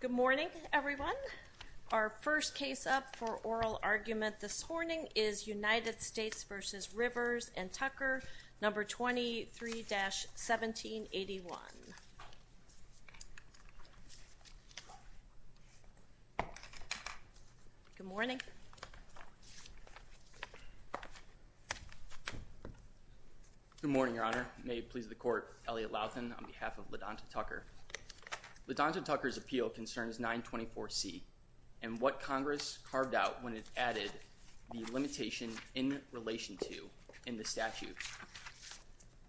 Good morning everyone. Our first case up for oral argument this morning is United States v. Rivers and Tucker number 23-1781. Good morning. Good morning Your Honor. Letondra Tucker's appeal concerns 924C and what Congress carved out when it added the limitation in relation to in the statute.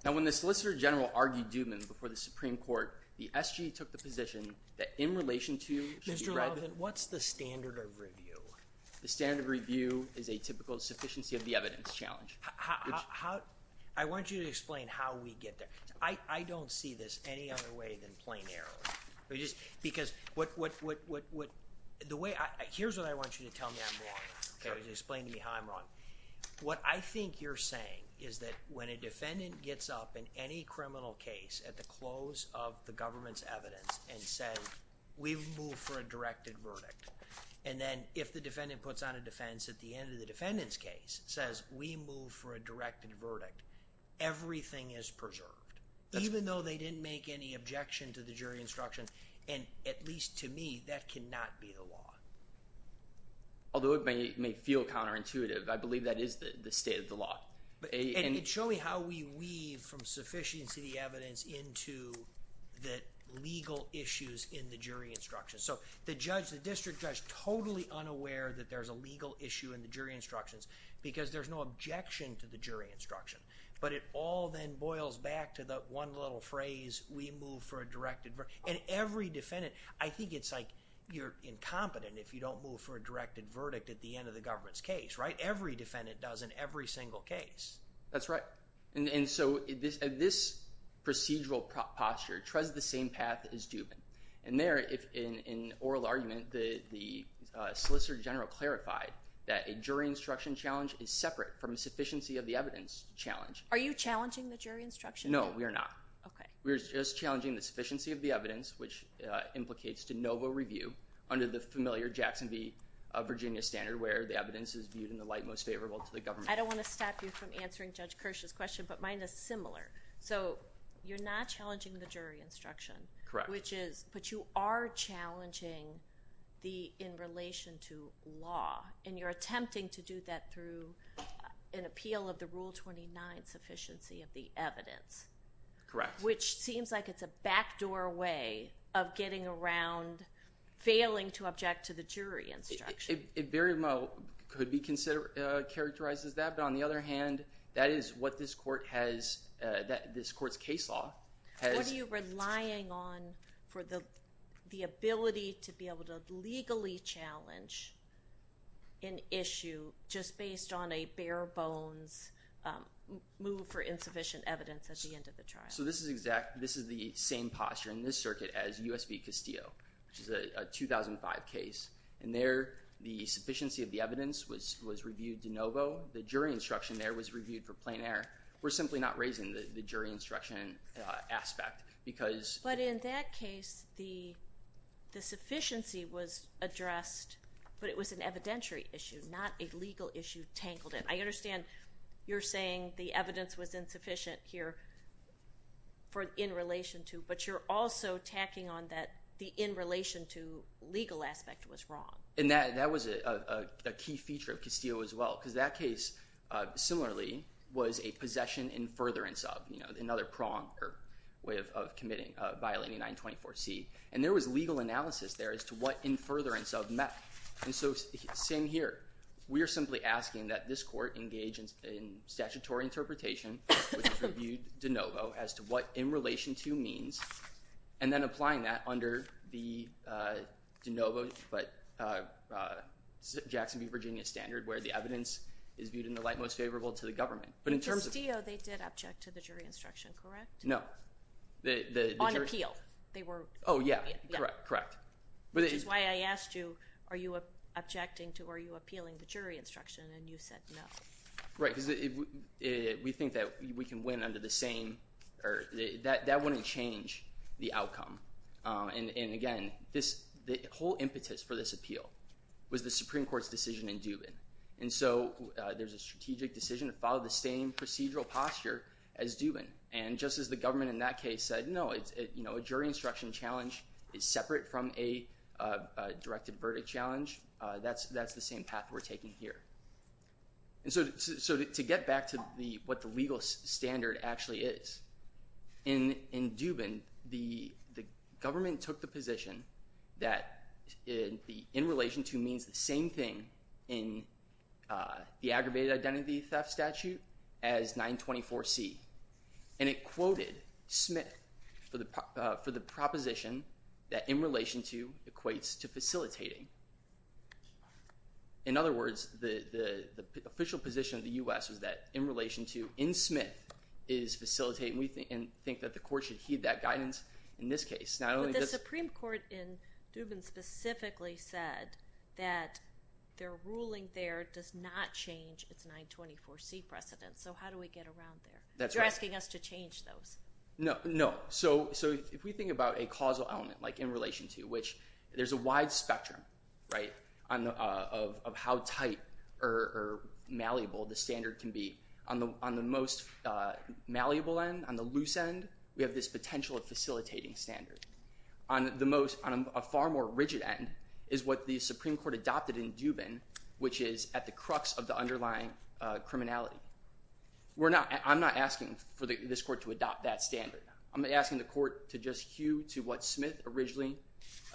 Now when the Solicitor General argued Dubin before the Supreme Court, the SG took the position that in relation to Mr. Robin, what's the standard of review? The standard of review is a typical sufficiency of the evidence challenge. How? I want you to explain how we get there. I don't see this any other way than plain error. Here's what I want you to tell me I'm wrong. Explain to me how I'm wrong. What I think you're saying is that when a defendant gets up in any criminal case at the close of the government's evidence and says we've moved for a directed verdict, and then if the defendant puts on a defense at the end of the defendant's case, says we moved for a directed verdict, everything is preserved. Even though they didn't make any objection to the jury instructions, and at least to me that cannot be the law. Although it may feel counterintuitive, I believe that is the state of the law. Show me how we weave from sufficiency of the evidence into the legal issues in the jury instructions. So the judge, the district judge, totally unaware that there's a legal issue in the jury instructions because there's no objection to the jury instruction. But it all then boils back to the one little phrase we move for a directed verdict. And every defendant, I think it's like you're incompetent if you don't move for a directed verdict at the end of the government's case. Every defendant does in every single case. That's right. And so this procedural posture treads the same path as Dubin. And there, in oral argument, the Solicitor General clarified that a jury instruction challenge is separate from a sufficiency of the evidence challenge. Are you challenging the jury instruction? No, we are not. Okay. We're just challenging the sufficiency of the evidence, which implicates de novo review under the familiar Jackson v. Virginia standard where the evidence is viewed in the light most favorable to the government. I don't want to stop you from answering Judge Kirsch's question, but mine is similar. So you're not challenging the jury instruction. Correct. Which is, but you are challenging in relation to law. And you're attempting to do that through an appeal of the Rule 29 sufficiency of the evidence. Correct. Which seems like it's a backdoor way of getting around failing to object to the jury instruction. It very well could be characterized as that. But on the other hand, that is what this court has, this court's case law has. What are you the ability to be able to legally challenge an issue just based on a bare bones move for insufficient evidence at the end of the trial? So this is exact, this is the same posture in this circuit as U.S. v. Castillo, which is a 2005 case. And there, the sufficiency of the evidence was reviewed de novo. The jury instruction there was reviewed for plain error. We're simply not raising the jury instruction aspect. But in that case, the sufficiency was addressed, but it was an evidentiary issue, not a legal issue tangled in. I understand you're saying the evidence was insufficient here in relation to, but you're also tacking on that the in relation to legal aspect was wrong. And that was a key feature of Castillo as well, because that case similarly was a possession in furtherance of, another prong or way of committing, violating 924C. And there was legal analysis there as to what in furtherance of met. And so same here, we are simply asking that this court engage in statutory interpretation, which is reviewed de novo, as to what in relation to means, and then applying that under the de novo, but Jackson v. Virginia standard, where the evidence is viewed in the light most favorable to the government. But in terms of- In Castillo, they did object to the jury instruction, correct? No. On appeal, they were- Oh yeah, correct, correct. Which is why I asked you, are you objecting to, are you appealing the jury instruction? And you said no. Right, because we think that we can win under the same, or that wouldn't change the outcome. And again, the whole impetus for this appeal was the Supreme Court's decision in Dubin. And so there's a strategic decision to follow the same procedural posture as Dubin. And just as the government in that case said no, a jury instruction challenge is separate from a directed verdict challenge, that's the same path we're taking here. So to get back to what the legal standard actually is, in Dubin, the government took the position that in relation to means the same thing in the aggravated identity theft statute as 924C. And it quoted Smith for the proposition that in relation to equates to facilitating. In other words, the official position of the U.S. was that in relation to in Smith is facilitating, and we think that the court should heed that guidance in this case. But the Supreme Court in Dubin specifically said that their ruling there does not change its 924C precedent. So how do we get around there? You're asking us to change those. No. So if we think about a causal element, like in relation to, which there's a wide spectrum of how tight or malleable the standard can be. On the most malleable end, on the loose end, we have this potential of facilitating standard. On a far more rigid end is what the Supreme Court adopted in Dubin, which is at the crux of the underlying criminality. I'm not asking for this court to adopt that standard. I'm asking the court to just hew to what Smith originally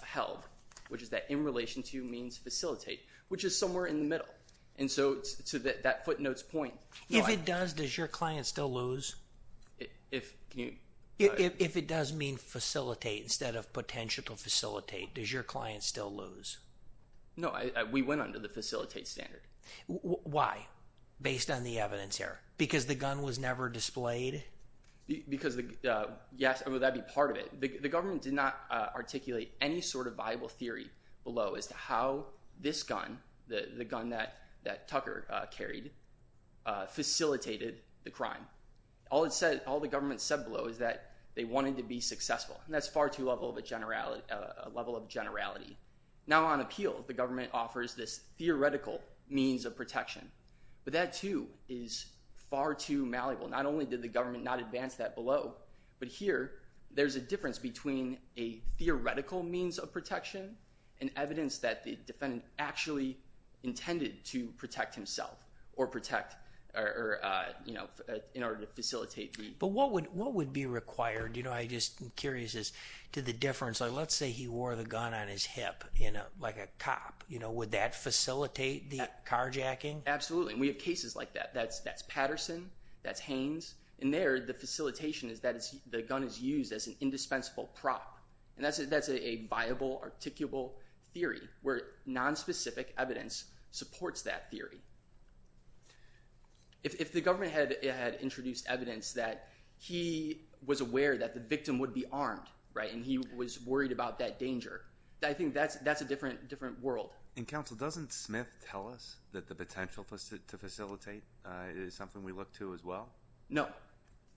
held, which is that in relation to means facilitate, which is somewhere in the middle. And so to that footnotes point. If it does, does your client still lose? If it does mean facilitate instead of potential to facilitate, does your client still lose? No, we went under the facilitate standard. Why? Based on the evidence here. Because the gun was never displayed? Because, yes, that'd be part of it. The government did not articulate any sort of viable theory below as to how this gun, the gun that Tucker carried, facilitated the crime. All it said, all the government said below is that they wanted to be successful. And that's far too low a level of generality. Now on appeal, the government offers this theoretical means of protection. But that too is far too malleable. Not only did the government not advance that below, but here there's a difference between a theoretical means of protection and evidence that the defendant actually intended to protect himself or protect or, you know, in order to facilitate. But what would be required? You know, I'm just curious as to the difference. Let's say he wore the gun on his hip, you know, like a cop. You know, would that facilitate the carjacking? Absolutely. And we have cases like that. That's Patterson, that's Haynes. And there the facilitation is that the gun is used as an indispensable prop. And that's a viable, articulable theory where nonspecific evidence supports that theory. If the government had introduced evidence that he was aware that the victim would be armed, right, and he was worried about that danger, I think that's a different world. And Counsel, doesn't Smith tell us that the potential to facilitate is something we look to as well? No.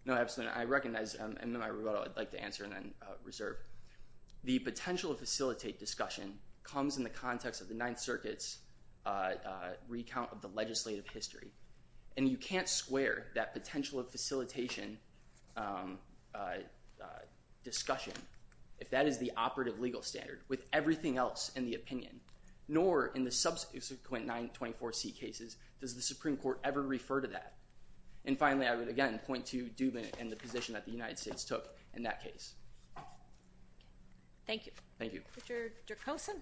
No, absolutely not. I recognize, and then I would like to answer and then reserve. The potential to facilitate discussion comes in the context of the Ninth Circuit's recount of the legislative history. And you can't square that potential of facilitation discussion, if that is the operative legal standard, with everything else in the opinion. Nor in the subsequent 924C cases does the Supreme Court ever refer to that. And finally, I would again point to Dubin and the position that the United States took in that case. Thank you. Thank you. Richard Dreykosen.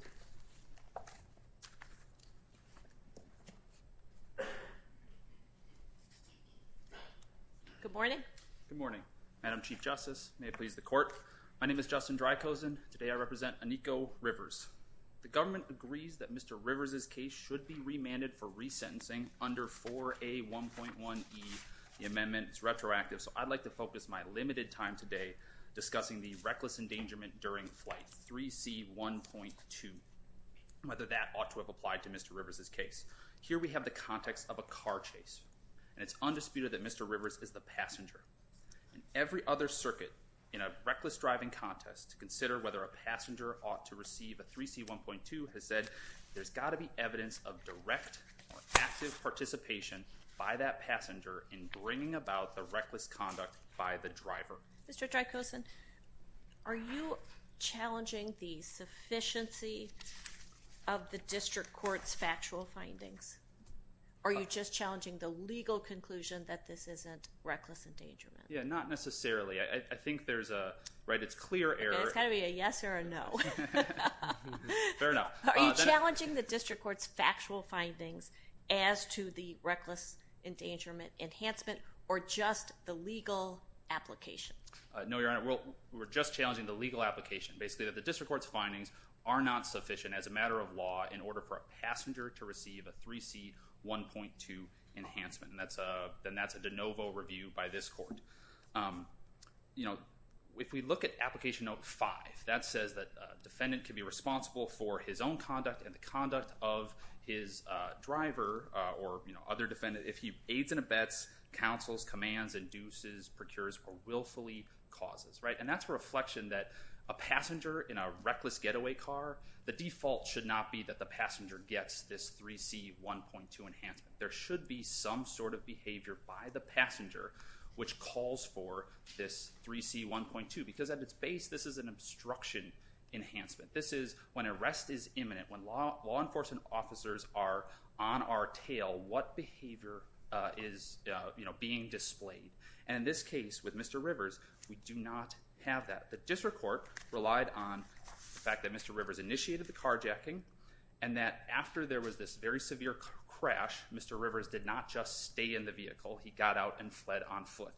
Good morning. Good morning. Madam Chief Justice, may it please the Court. My name is Justin Dreykosen. Today I represent Aniko Rivers. The government agrees that Mr. Rivers' case should be remanded for resentencing under 4A1.1E, the amendment. It's retroactive, so I'd like to focus my on 3C1.2, whether that ought to have applied to Mr. Rivers' case. Here we have the context of a car chase, and it's undisputed that Mr. Rivers is the passenger. In every other circuit, in a reckless driving contest, to consider whether a passenger ought to receive a 3C1.2 has said there's got to be evidence of direct or active participation by that passenger Mr. Dreykosen, are you challenging the sufficiency of the district court's factual findings? Are you just challenging the legal conclusion that this isn't reckless endangerment? Yeah, not necessarily. I think there's a, right, it's clear error. It's got to be a yes or a no. Fair enough. Are you challenging the district court's factual findings as to the reckless endangerment enhancement or just the legal application? No, Your Honor. We're just challenging the legal application. Basically that the district court's findings are not sufficient as a matter of law in order for a passenger to receive a 3C1.2 enhancement, and that's a de novo review by this court. You know, if we look at application note 5, that says that a defendant can be responsible for his own conduct and the conduct of his driver or, you know, other defendants. If he aids and abets, counsels, commands, induces, procures, or willfully causes, right? And that's a reflection that a passenger in a reckless getaway car, the default should not be that the passenger gets this 3C1.2 enhancement. There should be some sort of behavior by the passenger which calls for this 3C1.2 because at its base, this is an obstruction enhancement. This is when arrest is imminent, when law enforcement officers are on our tail, what behavior is, you know, being displayed. And in this case with Mr. Rivers, we do not have that. The district court relied on the fact that Mr. Rivers initiated the carjacking and that after there was this very severe crash, Mr. Rivers did not just stay in the vehicle. He got out and fled on foot.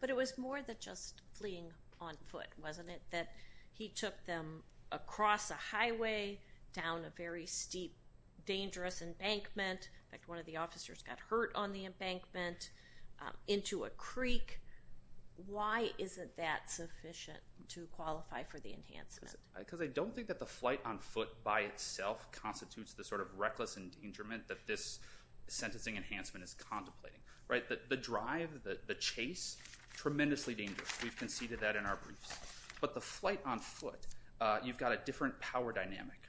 But it was more than just fleeing on foot, wasn't it? That he took them across a highway, down a very steep, dangerous embankment, in fact one of the officers got hurt on the embankment, into a creek. Why isn't that sufficient to qualify for the enhancement? Because I don't think that the flight on foot by itself constitutes the sort of reckless endangerment that this sentencing enhancement is contemplating. The drive, the chase, tremendously dangerous. We've conceded that in our briefs. But the flight on foot, you've got a different power dynamic.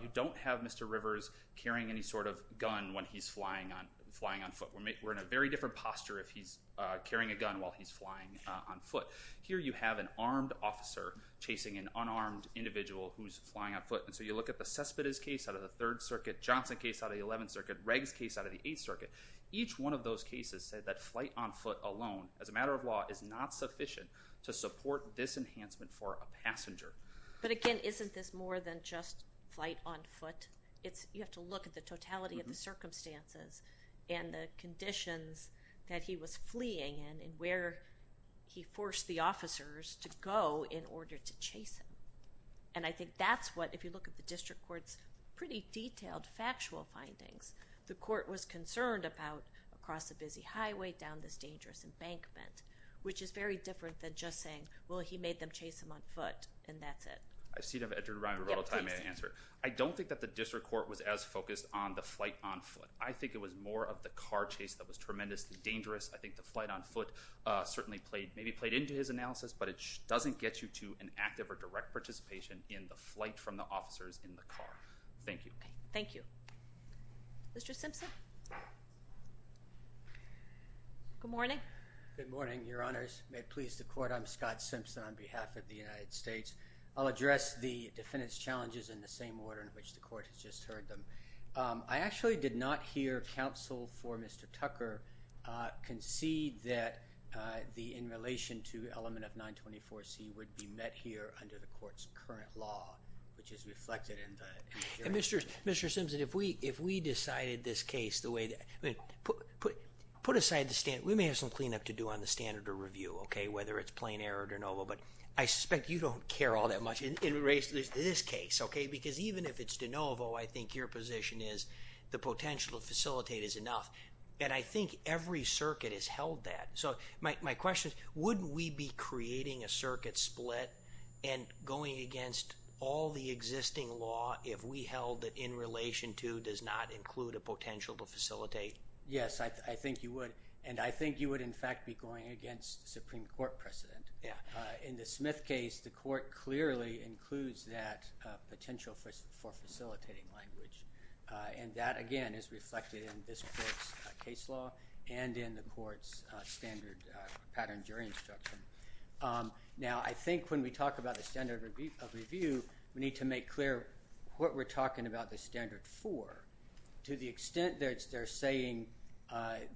You don't have Mr. Rivers carrying any sort of gun when he's flying on foot. We're in a very different posture if he's carrying a gun while he's flying on foot. Here you have an armed officer chasing an unarmed individual who's flying on foot. And so you look at the Cespedes case out of the 3rd Circuit, Johnson case out of the 11th Circuit, Reg's case out of the 8th Circuit. Each one of those cases said that flight on foot alone, as a matter of law, is not sufficient to support this enhancement for a passenger. But again, isn't this more than just flight on foot? You have to look at the totality of the circumstances and the conditions that he was fleeing in and where he forced the flight on foot. I don't think that the District Court was as focused on the flight on foot. I think it was more of the car chase that was tremendously dangerous. I think the flight on foot certainly played, maybe played into his analysis, but it doesn't get you to an Thank you. Thank you. Mr. Simpson? Good morning. Good morning, Your Honors. May it please the Court, I'm Scott Simpson on behalf of the United States. I'll address the defendant's challenges in the same order in which the Court has just heard them. I actually did not hear counsel for Mr. Tucker concede that in relation to element of 924C would be met here under the Court's current law, which is reflected in the injunction. Mr. Simpson, if we decided this case the way that, put aside the standard, we may have some cleanup to do on the standard of review, okay, whether it's plain error or de novo, but I suspect you don't care all that much in relation to this case, okay, because even if it's de novo, I think your position is the potential to facilitate is enough. And I think every circuit has held that. So my question is, wouldn't we be creating a circuit split and going against all the existing law if we held that in relation to does not include a potential to facilitate? Yes, I think you would. And I think you would, in fact, be going against Supreme Court precedent. In the Smith case, the Court clearly includes that potential for facilitating language. And that, again, is reflected in this case law and in the Court's standard pattern jury instruction. Now, I think when we talk about the standard of review, we need to make clear what we're talking about the standard for. To the extent that they're saying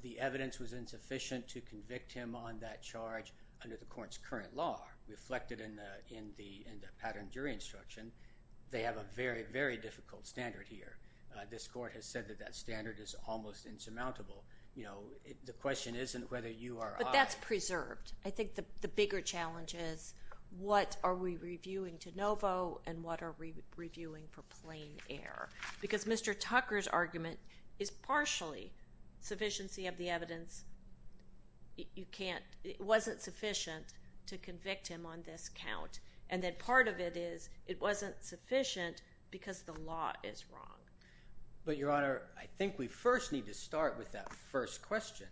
the evidence was insufficient to convict him on that charge under the Court's current law, reflected in the pattern jury instruction, they have a very, very difficult standard here. This Court has said that that standard is almost insurmountable. You know, the question isn't whether you are That's preserved. I think the bigger challenge is what are we reviewing to novo and what are we reviewing for plain error? Because Mr. Tucker's argument is partially sufficiency of the evidence. It wasn't sufficient to convict him on this count. And then part of it is it wasn't sufficient because the law is wrong. But, Your Honor, I think we first need to start with that first question.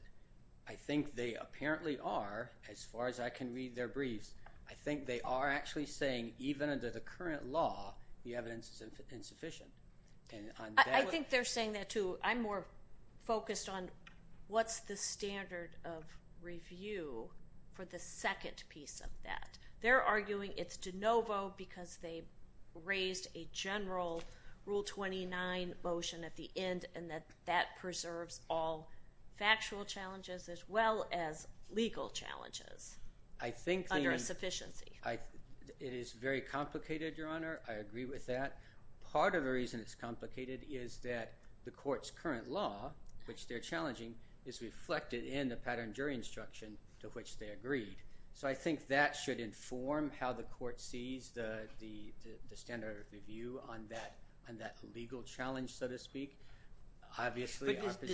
I think they apparently are, as far as I can read their briefs, I think they are actually saying even under the current law, the evidence is insufficient. I think they're saying that, too. I'm more focused on what's the standard of review for the second piece of that. They're arguing it's de novo because they raised a general Rule 29 motion at the end and that that preserves all factual challenges as well as legal challenges under insufficiency. It is very complicated, Your Honor. I agree with that. Part of the reason it's complicated is that the Court's current law, which they're challenging, is reflected in the pattern jury instruction to which they agreed. So I think that should inform how the Court sees the standard of review on that legal challenge, so to speak. Obviously, our position— But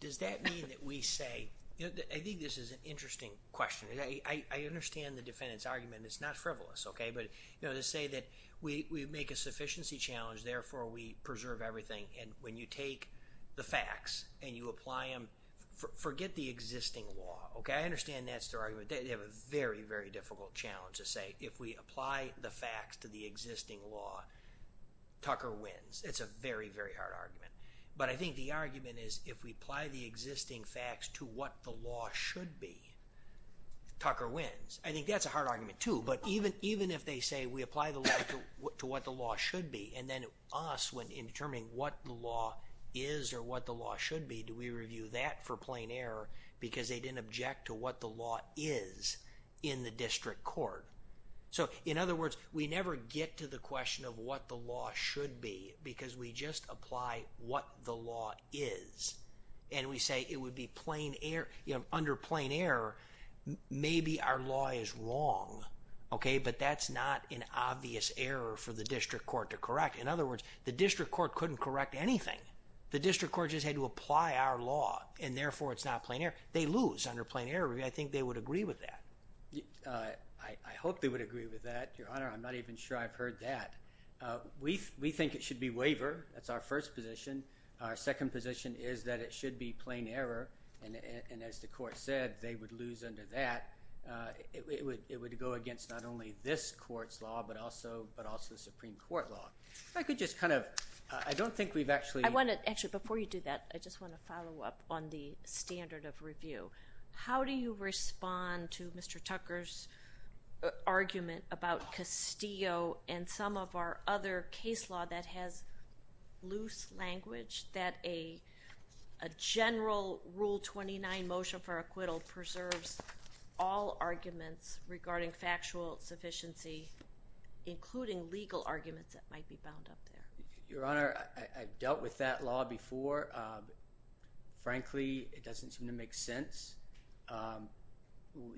does that mean that we say—I think this is an interesting question. I understand the defendant's argument. It's not frivolous. But to say that we make a sufficiency challenge, therefore we preserve everything. And when you take the facts and you apply them—forget the existing law, okay? I understand that's their argument. They have a very, very difficult challenge to say if we apply the facts to the existing law, Tucker wins. It's a very, very hard argument. But I think the argument is if we apply the existing facts to what the law should be, Tucker wins. I think that's a hard argument, too. But even if they say we apply the law to what the law should be, and then us, in reviewing what the law is or what the law should be, do we review that for plain error because they didn't object to what the law is in the district court? So, in other words, we never get to the question of what the law should be because we just apply what the law is. And we say it would be plain—under plain error, maybe our law is wrong, okay? But that's not an obvious error for the district court to correct. In other words, the district court couldn't correct anything. The district court just had to apply our law, and therefore, it's not plain error. They lose under plain error. I think they would agree with that. I hope they would agree with that, Your Honor. I'm not even sure I've heard that. We think it should be waiver. That's our first position. Our second position is that it should be plain error. And as the court said, they would lose under that. It would go against not only this I could just kind of—I don't think we've actually— I want to—actually, before you do that, I just want to follow up on the standard of review. How do you respond to Mr. Tucker's argument about Castillo and some of our other case law that has loose language that a general Rule 29 motion for acquittal preserves all arguments that might be bound up there? Your Honor, I've dealt with that law before. Frankly, it doesn't seem to make sense.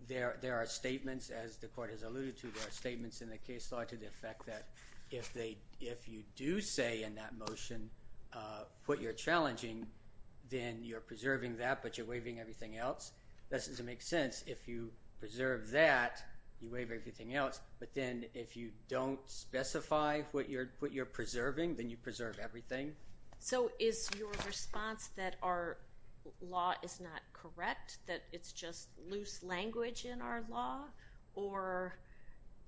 There are statements, as the court has alluded to, there are statements in the case law to the effect that if you do say in that motion what you're challenging, then you're preserving that, but you're waiving everything else. That doesn't make sense. If you preserve that, you waive everything else, but then if you don't specify what you're preserving, then you preserve everything. So is your response that our law is not correct, that it's just loose language in our law, or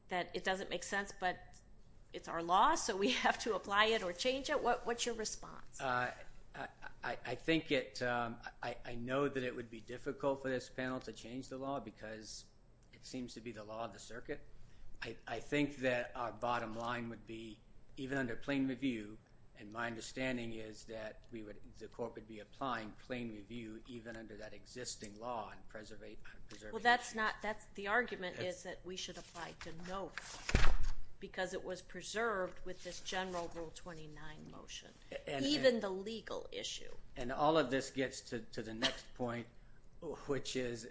that it doesn't make sense, but it's our law, so we have to apply it or change it? What's your response? I think it—I know that it would be difficult for this panel to change the law because it would be the law of the circuit. I think that our bottom line would be even under plain review, and my understanding is that the court would be applying plain review even under that existing law on preserving— Well, that's not—the argument is that we should apply to no fault because it was preserved with this general Rule 29 motion, even the legal issue. And all of this gets to the next point, which is,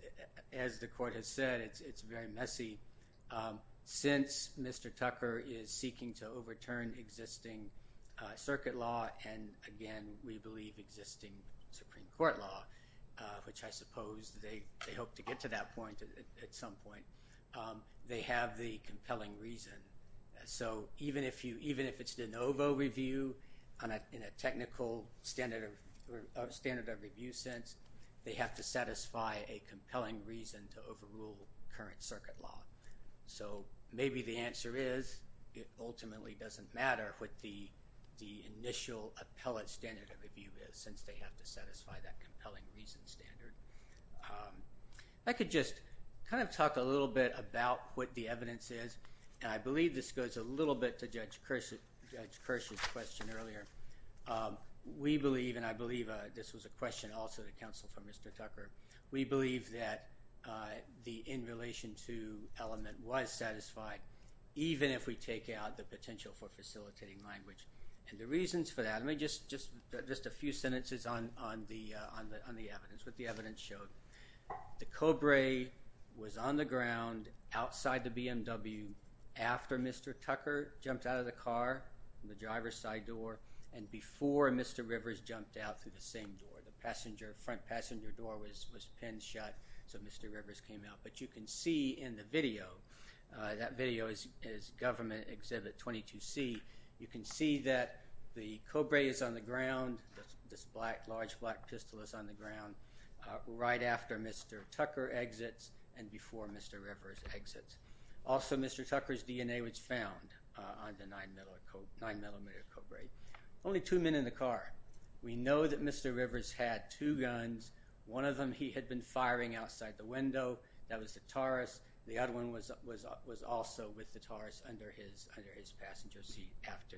as the court has said, it's very messy. Since Mr. Tucker is seeking to overturn existing circuit law and, again, we believe existing Supreme Court law, which I suppose they hope to get to that point at some point, they have the compelling reason. So even if it's de novo review in a technical standard of review sense, they have to satisfy a compelling reason to overrule current circuit law. So maybe the answer is it ultimately doesn't matter what the initial appellate standard of review is since they have to satisfy that compelling reason standard. I could just kind of talk a little bit about what the evidence is, and I believe this goes a little bit to Judge Kirsch's question earlier. We believe, and I believe this was a question also to counsel for Mr. Tucker, we believe that the in relation to element was satisfied even if we take out the potential for facilitating language. And the reasons for that, let me just a few sentences on the evidence, what the evidence showed. The Cobrae was on the ground outside the BMW after Mr. Tucker jumped out of the car from the driver's side door and before Mr. Rivers jumped out through the same door. The front passenger door was pinned shut so Mr. Rivers came out. But you can see in the video, that video is government exhibit 22C, you can see that the Cobrae is on the ground, this large black pistol is on the ground right after Mr. Tucker exits and before Mr. Rivers exits. Also Mr. Tucker's DNA was found on the 9mm Cobrae. Only two men in the car. We know that Mr. Rivers had two guns. One of them he had been firing outside the window. That was the Taurus. The other one was also with the Taurus under his passenger seat after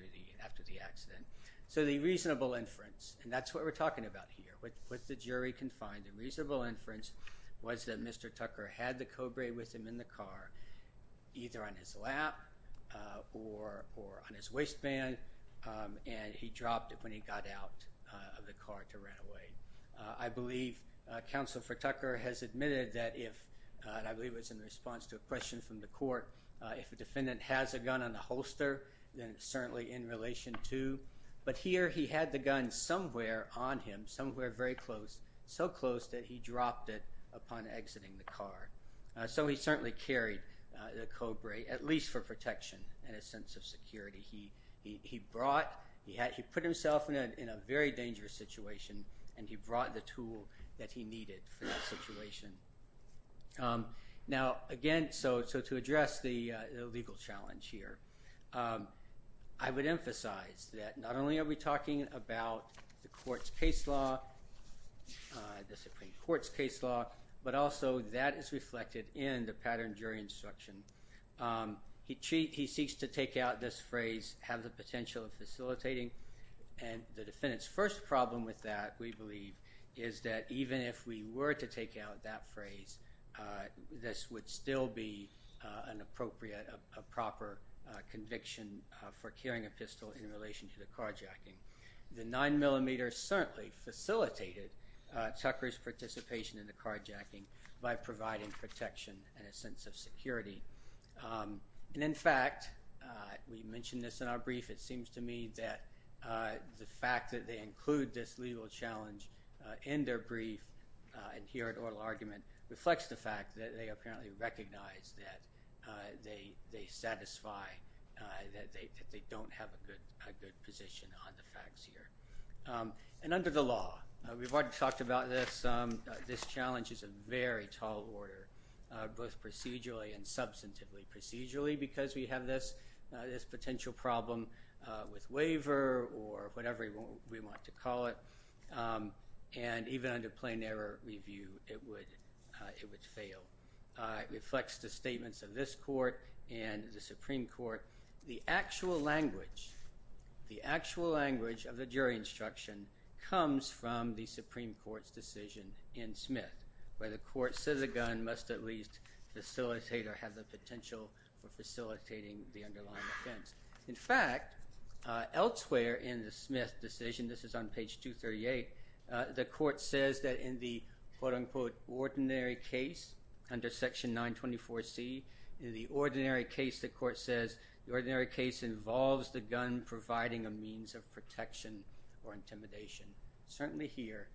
the accident. So the reasonable inference, and that's what we're talking about here, what the jury can find, the reasonable inference was that Mr. Tucker had the Cobrae with him in the car either on his lap or on his waistband and he dropped it when he got out of the car to run away. I believe Counsel for Tucker has admitted that if, and I believe it was in response to a question from the court, if a defendant has a gun on the holster then it's certainly in relation to. But here he had the gun somewhere on him, somewhere very close, so close that he dropped it upon exiting the car. So he certainly carried the Cobrae, at least for protection and a sense of security. He brought, he put himself in a very dangerous situation and he brought the tool that he needed for that situation. Now again, so to address the legal challenge here, I would emphasize that not only are we talking about the court's case law, the Supreme Court's case law, but also that is reflected in the pattern jury instruction. He seeks to take out this phrase, have the potential of facilitating, and the defendant's first problem with that we believe is that even if we were to take out that phrase, this would still be an appropriate, a proper conviction for carrying a pistol in relation to the carjacking. The 9mm certainly facilitated Tucker's participation in the carjacking by providing protection and a sense of security. And in fact, we mentioned this in our brief, it seems to me that the fact that they include this legal challenge in their brief and here in oral argument reflects the fact that they apparently recognize that they satisfy, that they don't have a good position on the facts here. And under the law, we've already talked about this, this challenge is a very tall order, both procedurally and substantively procedurally because we have this potential problem with waiver or whatever we want to call it, and even under plain error review, it would fail. It reflects the statements of this court and the Supreme Court. The actual language, the actual language of the jury instruction comes from the Supreme Court's decision in Smith where the court says a gun must at least facilitate or have the potential for facilitating the underlying offense. In fact, elsewhere in the Smith decision, this is on page 238, the court says that in the quote-unquote ordinary case under section 924C, in the ordinary case the court says the ordinary case involves the gun providing a means of protection or intimidation. Certainly here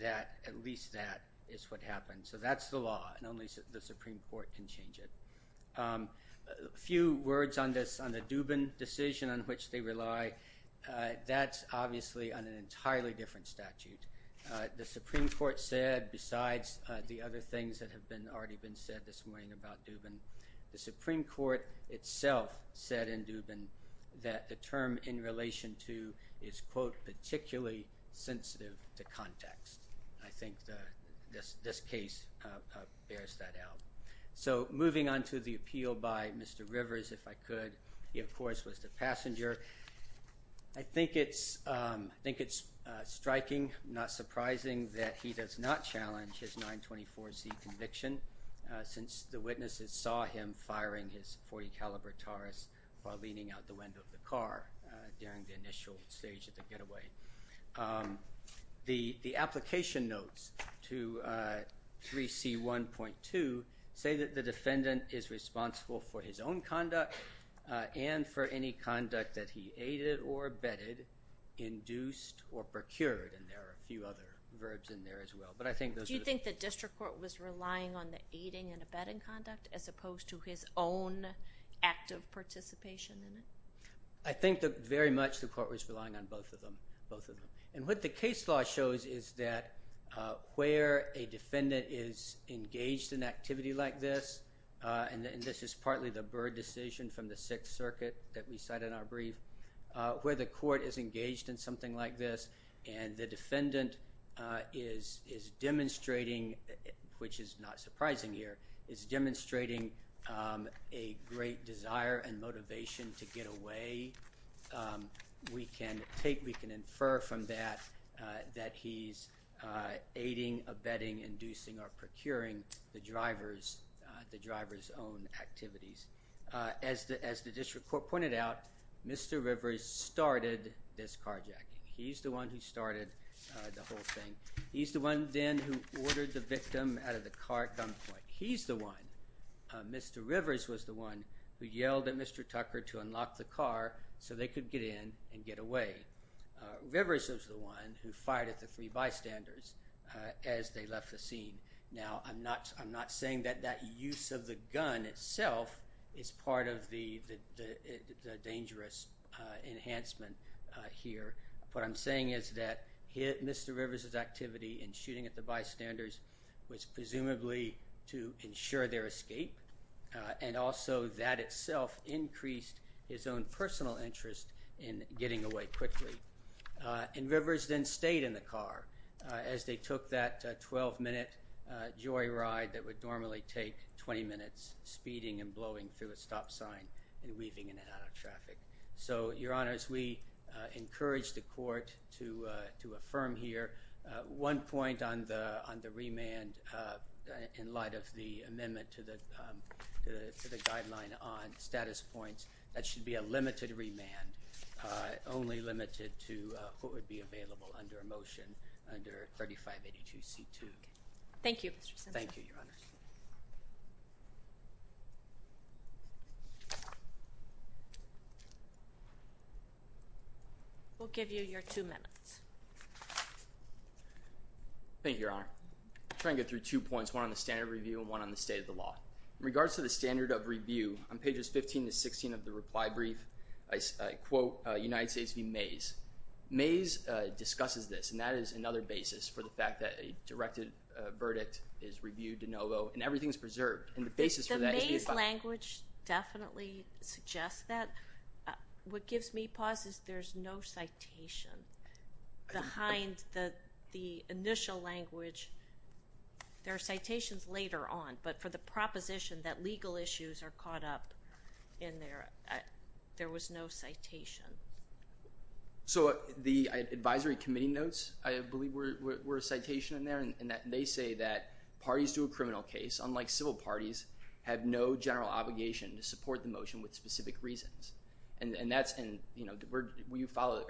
that at least that is what happens. So that's the law and only the Supreme Court can change it. A few words on the Dubin decision on which they rely. That's obviously on an entirely different statute. The Supreme Court said besides the other things that have already been said this morning about Dubin, the Supreme Court itself said in Dubin that the term in relation to is quote particularly sensitive to context. I think this case bears that out. So moving on to the appeal by Mr. Rivers, if I could. He, of course, was the passenger. I think it's striking, not surprising, that he does not challenge his 924C conviction. Since the witnesses saw him firing his .40 caliber Taurus while leaning out the window of the car during the initial stage of the getaway. The application notes to 3C1.2 say that the defendant is responsible for his own conduct and for any conduct that he aided or abetted, induced or procured. And there are a few other verbs in there as well. Do you think the district court was relying on the aiding and abetting conduct as opposed to his own active participation in it? I think very much the court was relying on both of them. And what the case law shows is that where a defendant is engaged in activity like this, and this is partly the Byrd decision from the Sixth Circuit that we cite in our brief, where the court is engaged in something like this and the defendant is demonstrating, which is not surprising here, is demonstrating a great desire and motivation to get away. We can infer from that that he's aiding, abetting, inducing or procuring the driver's own activities. As the district court pointed out, Mr. Rivers started this carjacking. He's the one who started the whole thing. He's the one then who ordered the victim out of the car at gunpoint. He's the one, Mr. Rivers was the one, who yelled at Mr. Tucker to unlock the car so they could get in and get away. Rivers was the one who fired at the three bystanders as they left the scene. Now, I'm not saying that that use of the gun itself is part of the dangerous enhancement here. What I'm saying is that Mr. Rivers' activity in shooting at the bystanders was presumably to ensure their escape, and also that itself increased his own personal interest in getting away quickly. And Rivers then stayed in the car as they took that 12-minute joyride that would normally take 20 minutes, speeding and blowing through a stop sign and weaving it out of traffic. So, Your Honors, we encourage the court to affirm here. One point on the remand in light of the amendment to the guideline on status points, that should be a limited remand, only limited to what would be available under a motion under 3582C2. Thank you, Mr. Simpson. Thank you, Your Honors. We'll give you your two minutes. Thank you, Your Honor. I'll try and get through two points, one on the standard review and one on the state of the law. In regards to the standard of review, on pages 15 to 16 of the reply brief, I quote United States v. Mays. Mays discusses this, and that is another basis for the fact that a directed verdict is reviewed de novo, and everything is preserved, and the basis for that is the effect. The Mays language definitely suggests that. What gives me pause is there's no citation behind the initial language. There are citations later on, but for the proposition that legal issues are caught up in there, there was no citation. So the advisory committee notes, I believe, were a citation in there, and they say that parties to a criminal case, unlike civil parties, have no general obligation to support the motion with specific reasons. And that's in, you know, will you follow?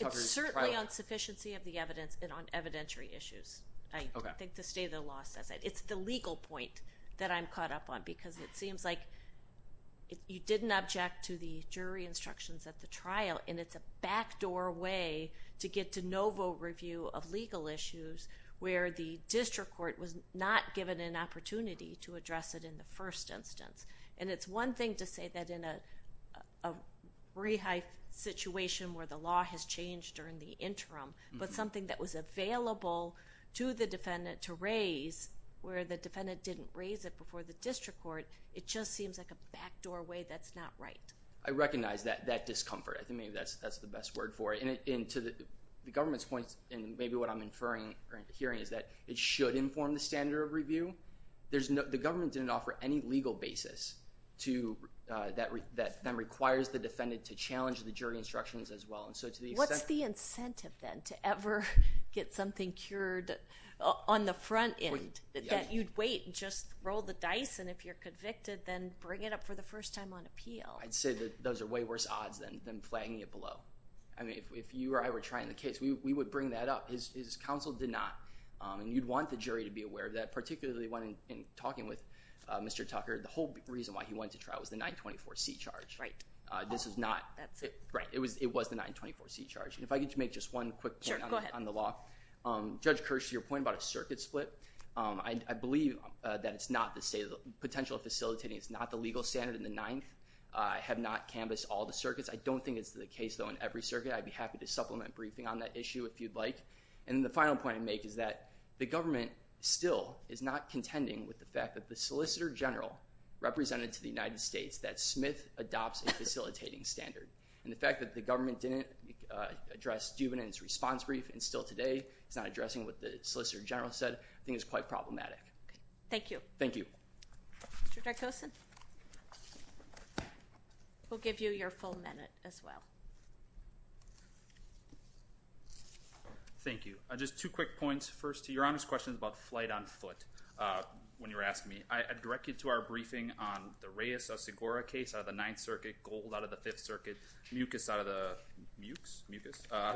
It's certainly on sufficiency of the evidence and on evidentiary issues. I think the state of the law says that. It's the legal point that I'm caught up on because it seems like you didn't object to the jury instructions at the trial, and it's a backdoor way to get de novo review of legal issues where the district court was not given an opportunity to address it in the first instance. And it's one thing to say that in a rehab situation where the law has changed during the interim, but something that was available to the defendant to raise where the defendant didn't raise it before the district court, it just seems like a backdoor way that's not right. I recognize that discomfort. I think maybe that's the best word for it. And to the government's point, and maybe what I'm inferring or hearing is that it should inform the standard of review. The government didn't offer any legal basis that then requires the defendant to challenge the jury instructions as well. And so to the extent— What's the incentive then to ever get something cured on the front end? That you'd wait and just roll the dice, and if you're convicted, then bring it up for the first time on appeal? I'd say that those are way worse odds than flagging it below. I mean, if you or I were trying the case, we would bring that up. His counsel did not. And you'd want the jury to be aware of that, particularly when talking with Mr. Tucker. The whole reason why he went to trial was the 924C charge. Right. This is not— That's it. Right. It was the 924C charge. And if I could make just one quick point on the law. Sure, go ahead. Judge Kirsch, to your point about a circuit split, I believe that it's not the potential facilitating. It's not the legal standard in the Ninth. I have not canvassed all the circuits. I don't think it's the case, though, in every circuit. I'd be happy to supplement briefing on that issue if you'd like. And then the final point I'd make is that the government still is not contending with the fact that the Solicitor General represented to the United States that Smith adopts a facilitating standard. And the fact that the government didn't address Dubin in its response brief and still today is not addressing what the Solicitor General said I think is quite problematic. Thank you. Thank you. Mr. Darkosin, we'll give you your full minute as well. Thank you. Just two quick points. First, to Your Honor's question about flight on foot, when you were asking me, I'd direct you to our briefing on the Reyes-Osegura case out of the Ninth Circuit, Gold out of the Fifth Circuit, Mucus out of the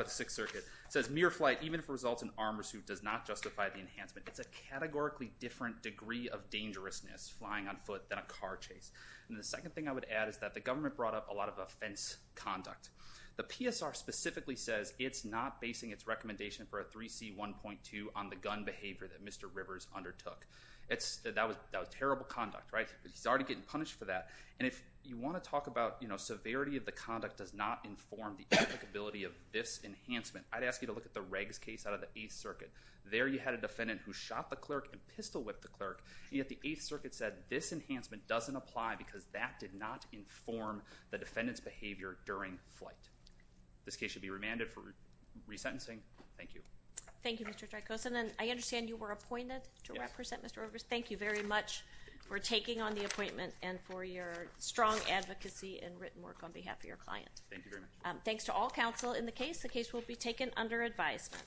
Sixth Circuit. It says mere flight, even if it results in arm or suit, does not justify the enhancement. It's a categorically different degree of dangerousness, flying on foot, than a car chase. And the second thing I would add is that the government brought up a lot of offense conduct. The PSR specifically says it's not basing its recommendation for a 3C1.2 on the gun behavior that Mr. Rivers undertook. That was terrible conduct, right? He's already getting punished for that. And if you want to talk about severity of the conduct does not inform the applicability of this enhancement, I'd ask you to look at the Riggs case out of the Eighth Circuit. There you had a defendant who shot the clerk and pistol-whipped the clerk, and yet the Eighth Circuit said this enhancement doesn't apply because that did not inform the defendant's behavior during flight. This case should be remanded for resentencing. Thank you. Thank you, Mr. Dreykoson. And I understand you were appointed to represent Mr. Rivers. Thank you very much for taking on the appointment and for your strong advocacy and written work on behalf of your client. Thank you very much. Thanks to all counsel in the case. The case will be taken under advisement.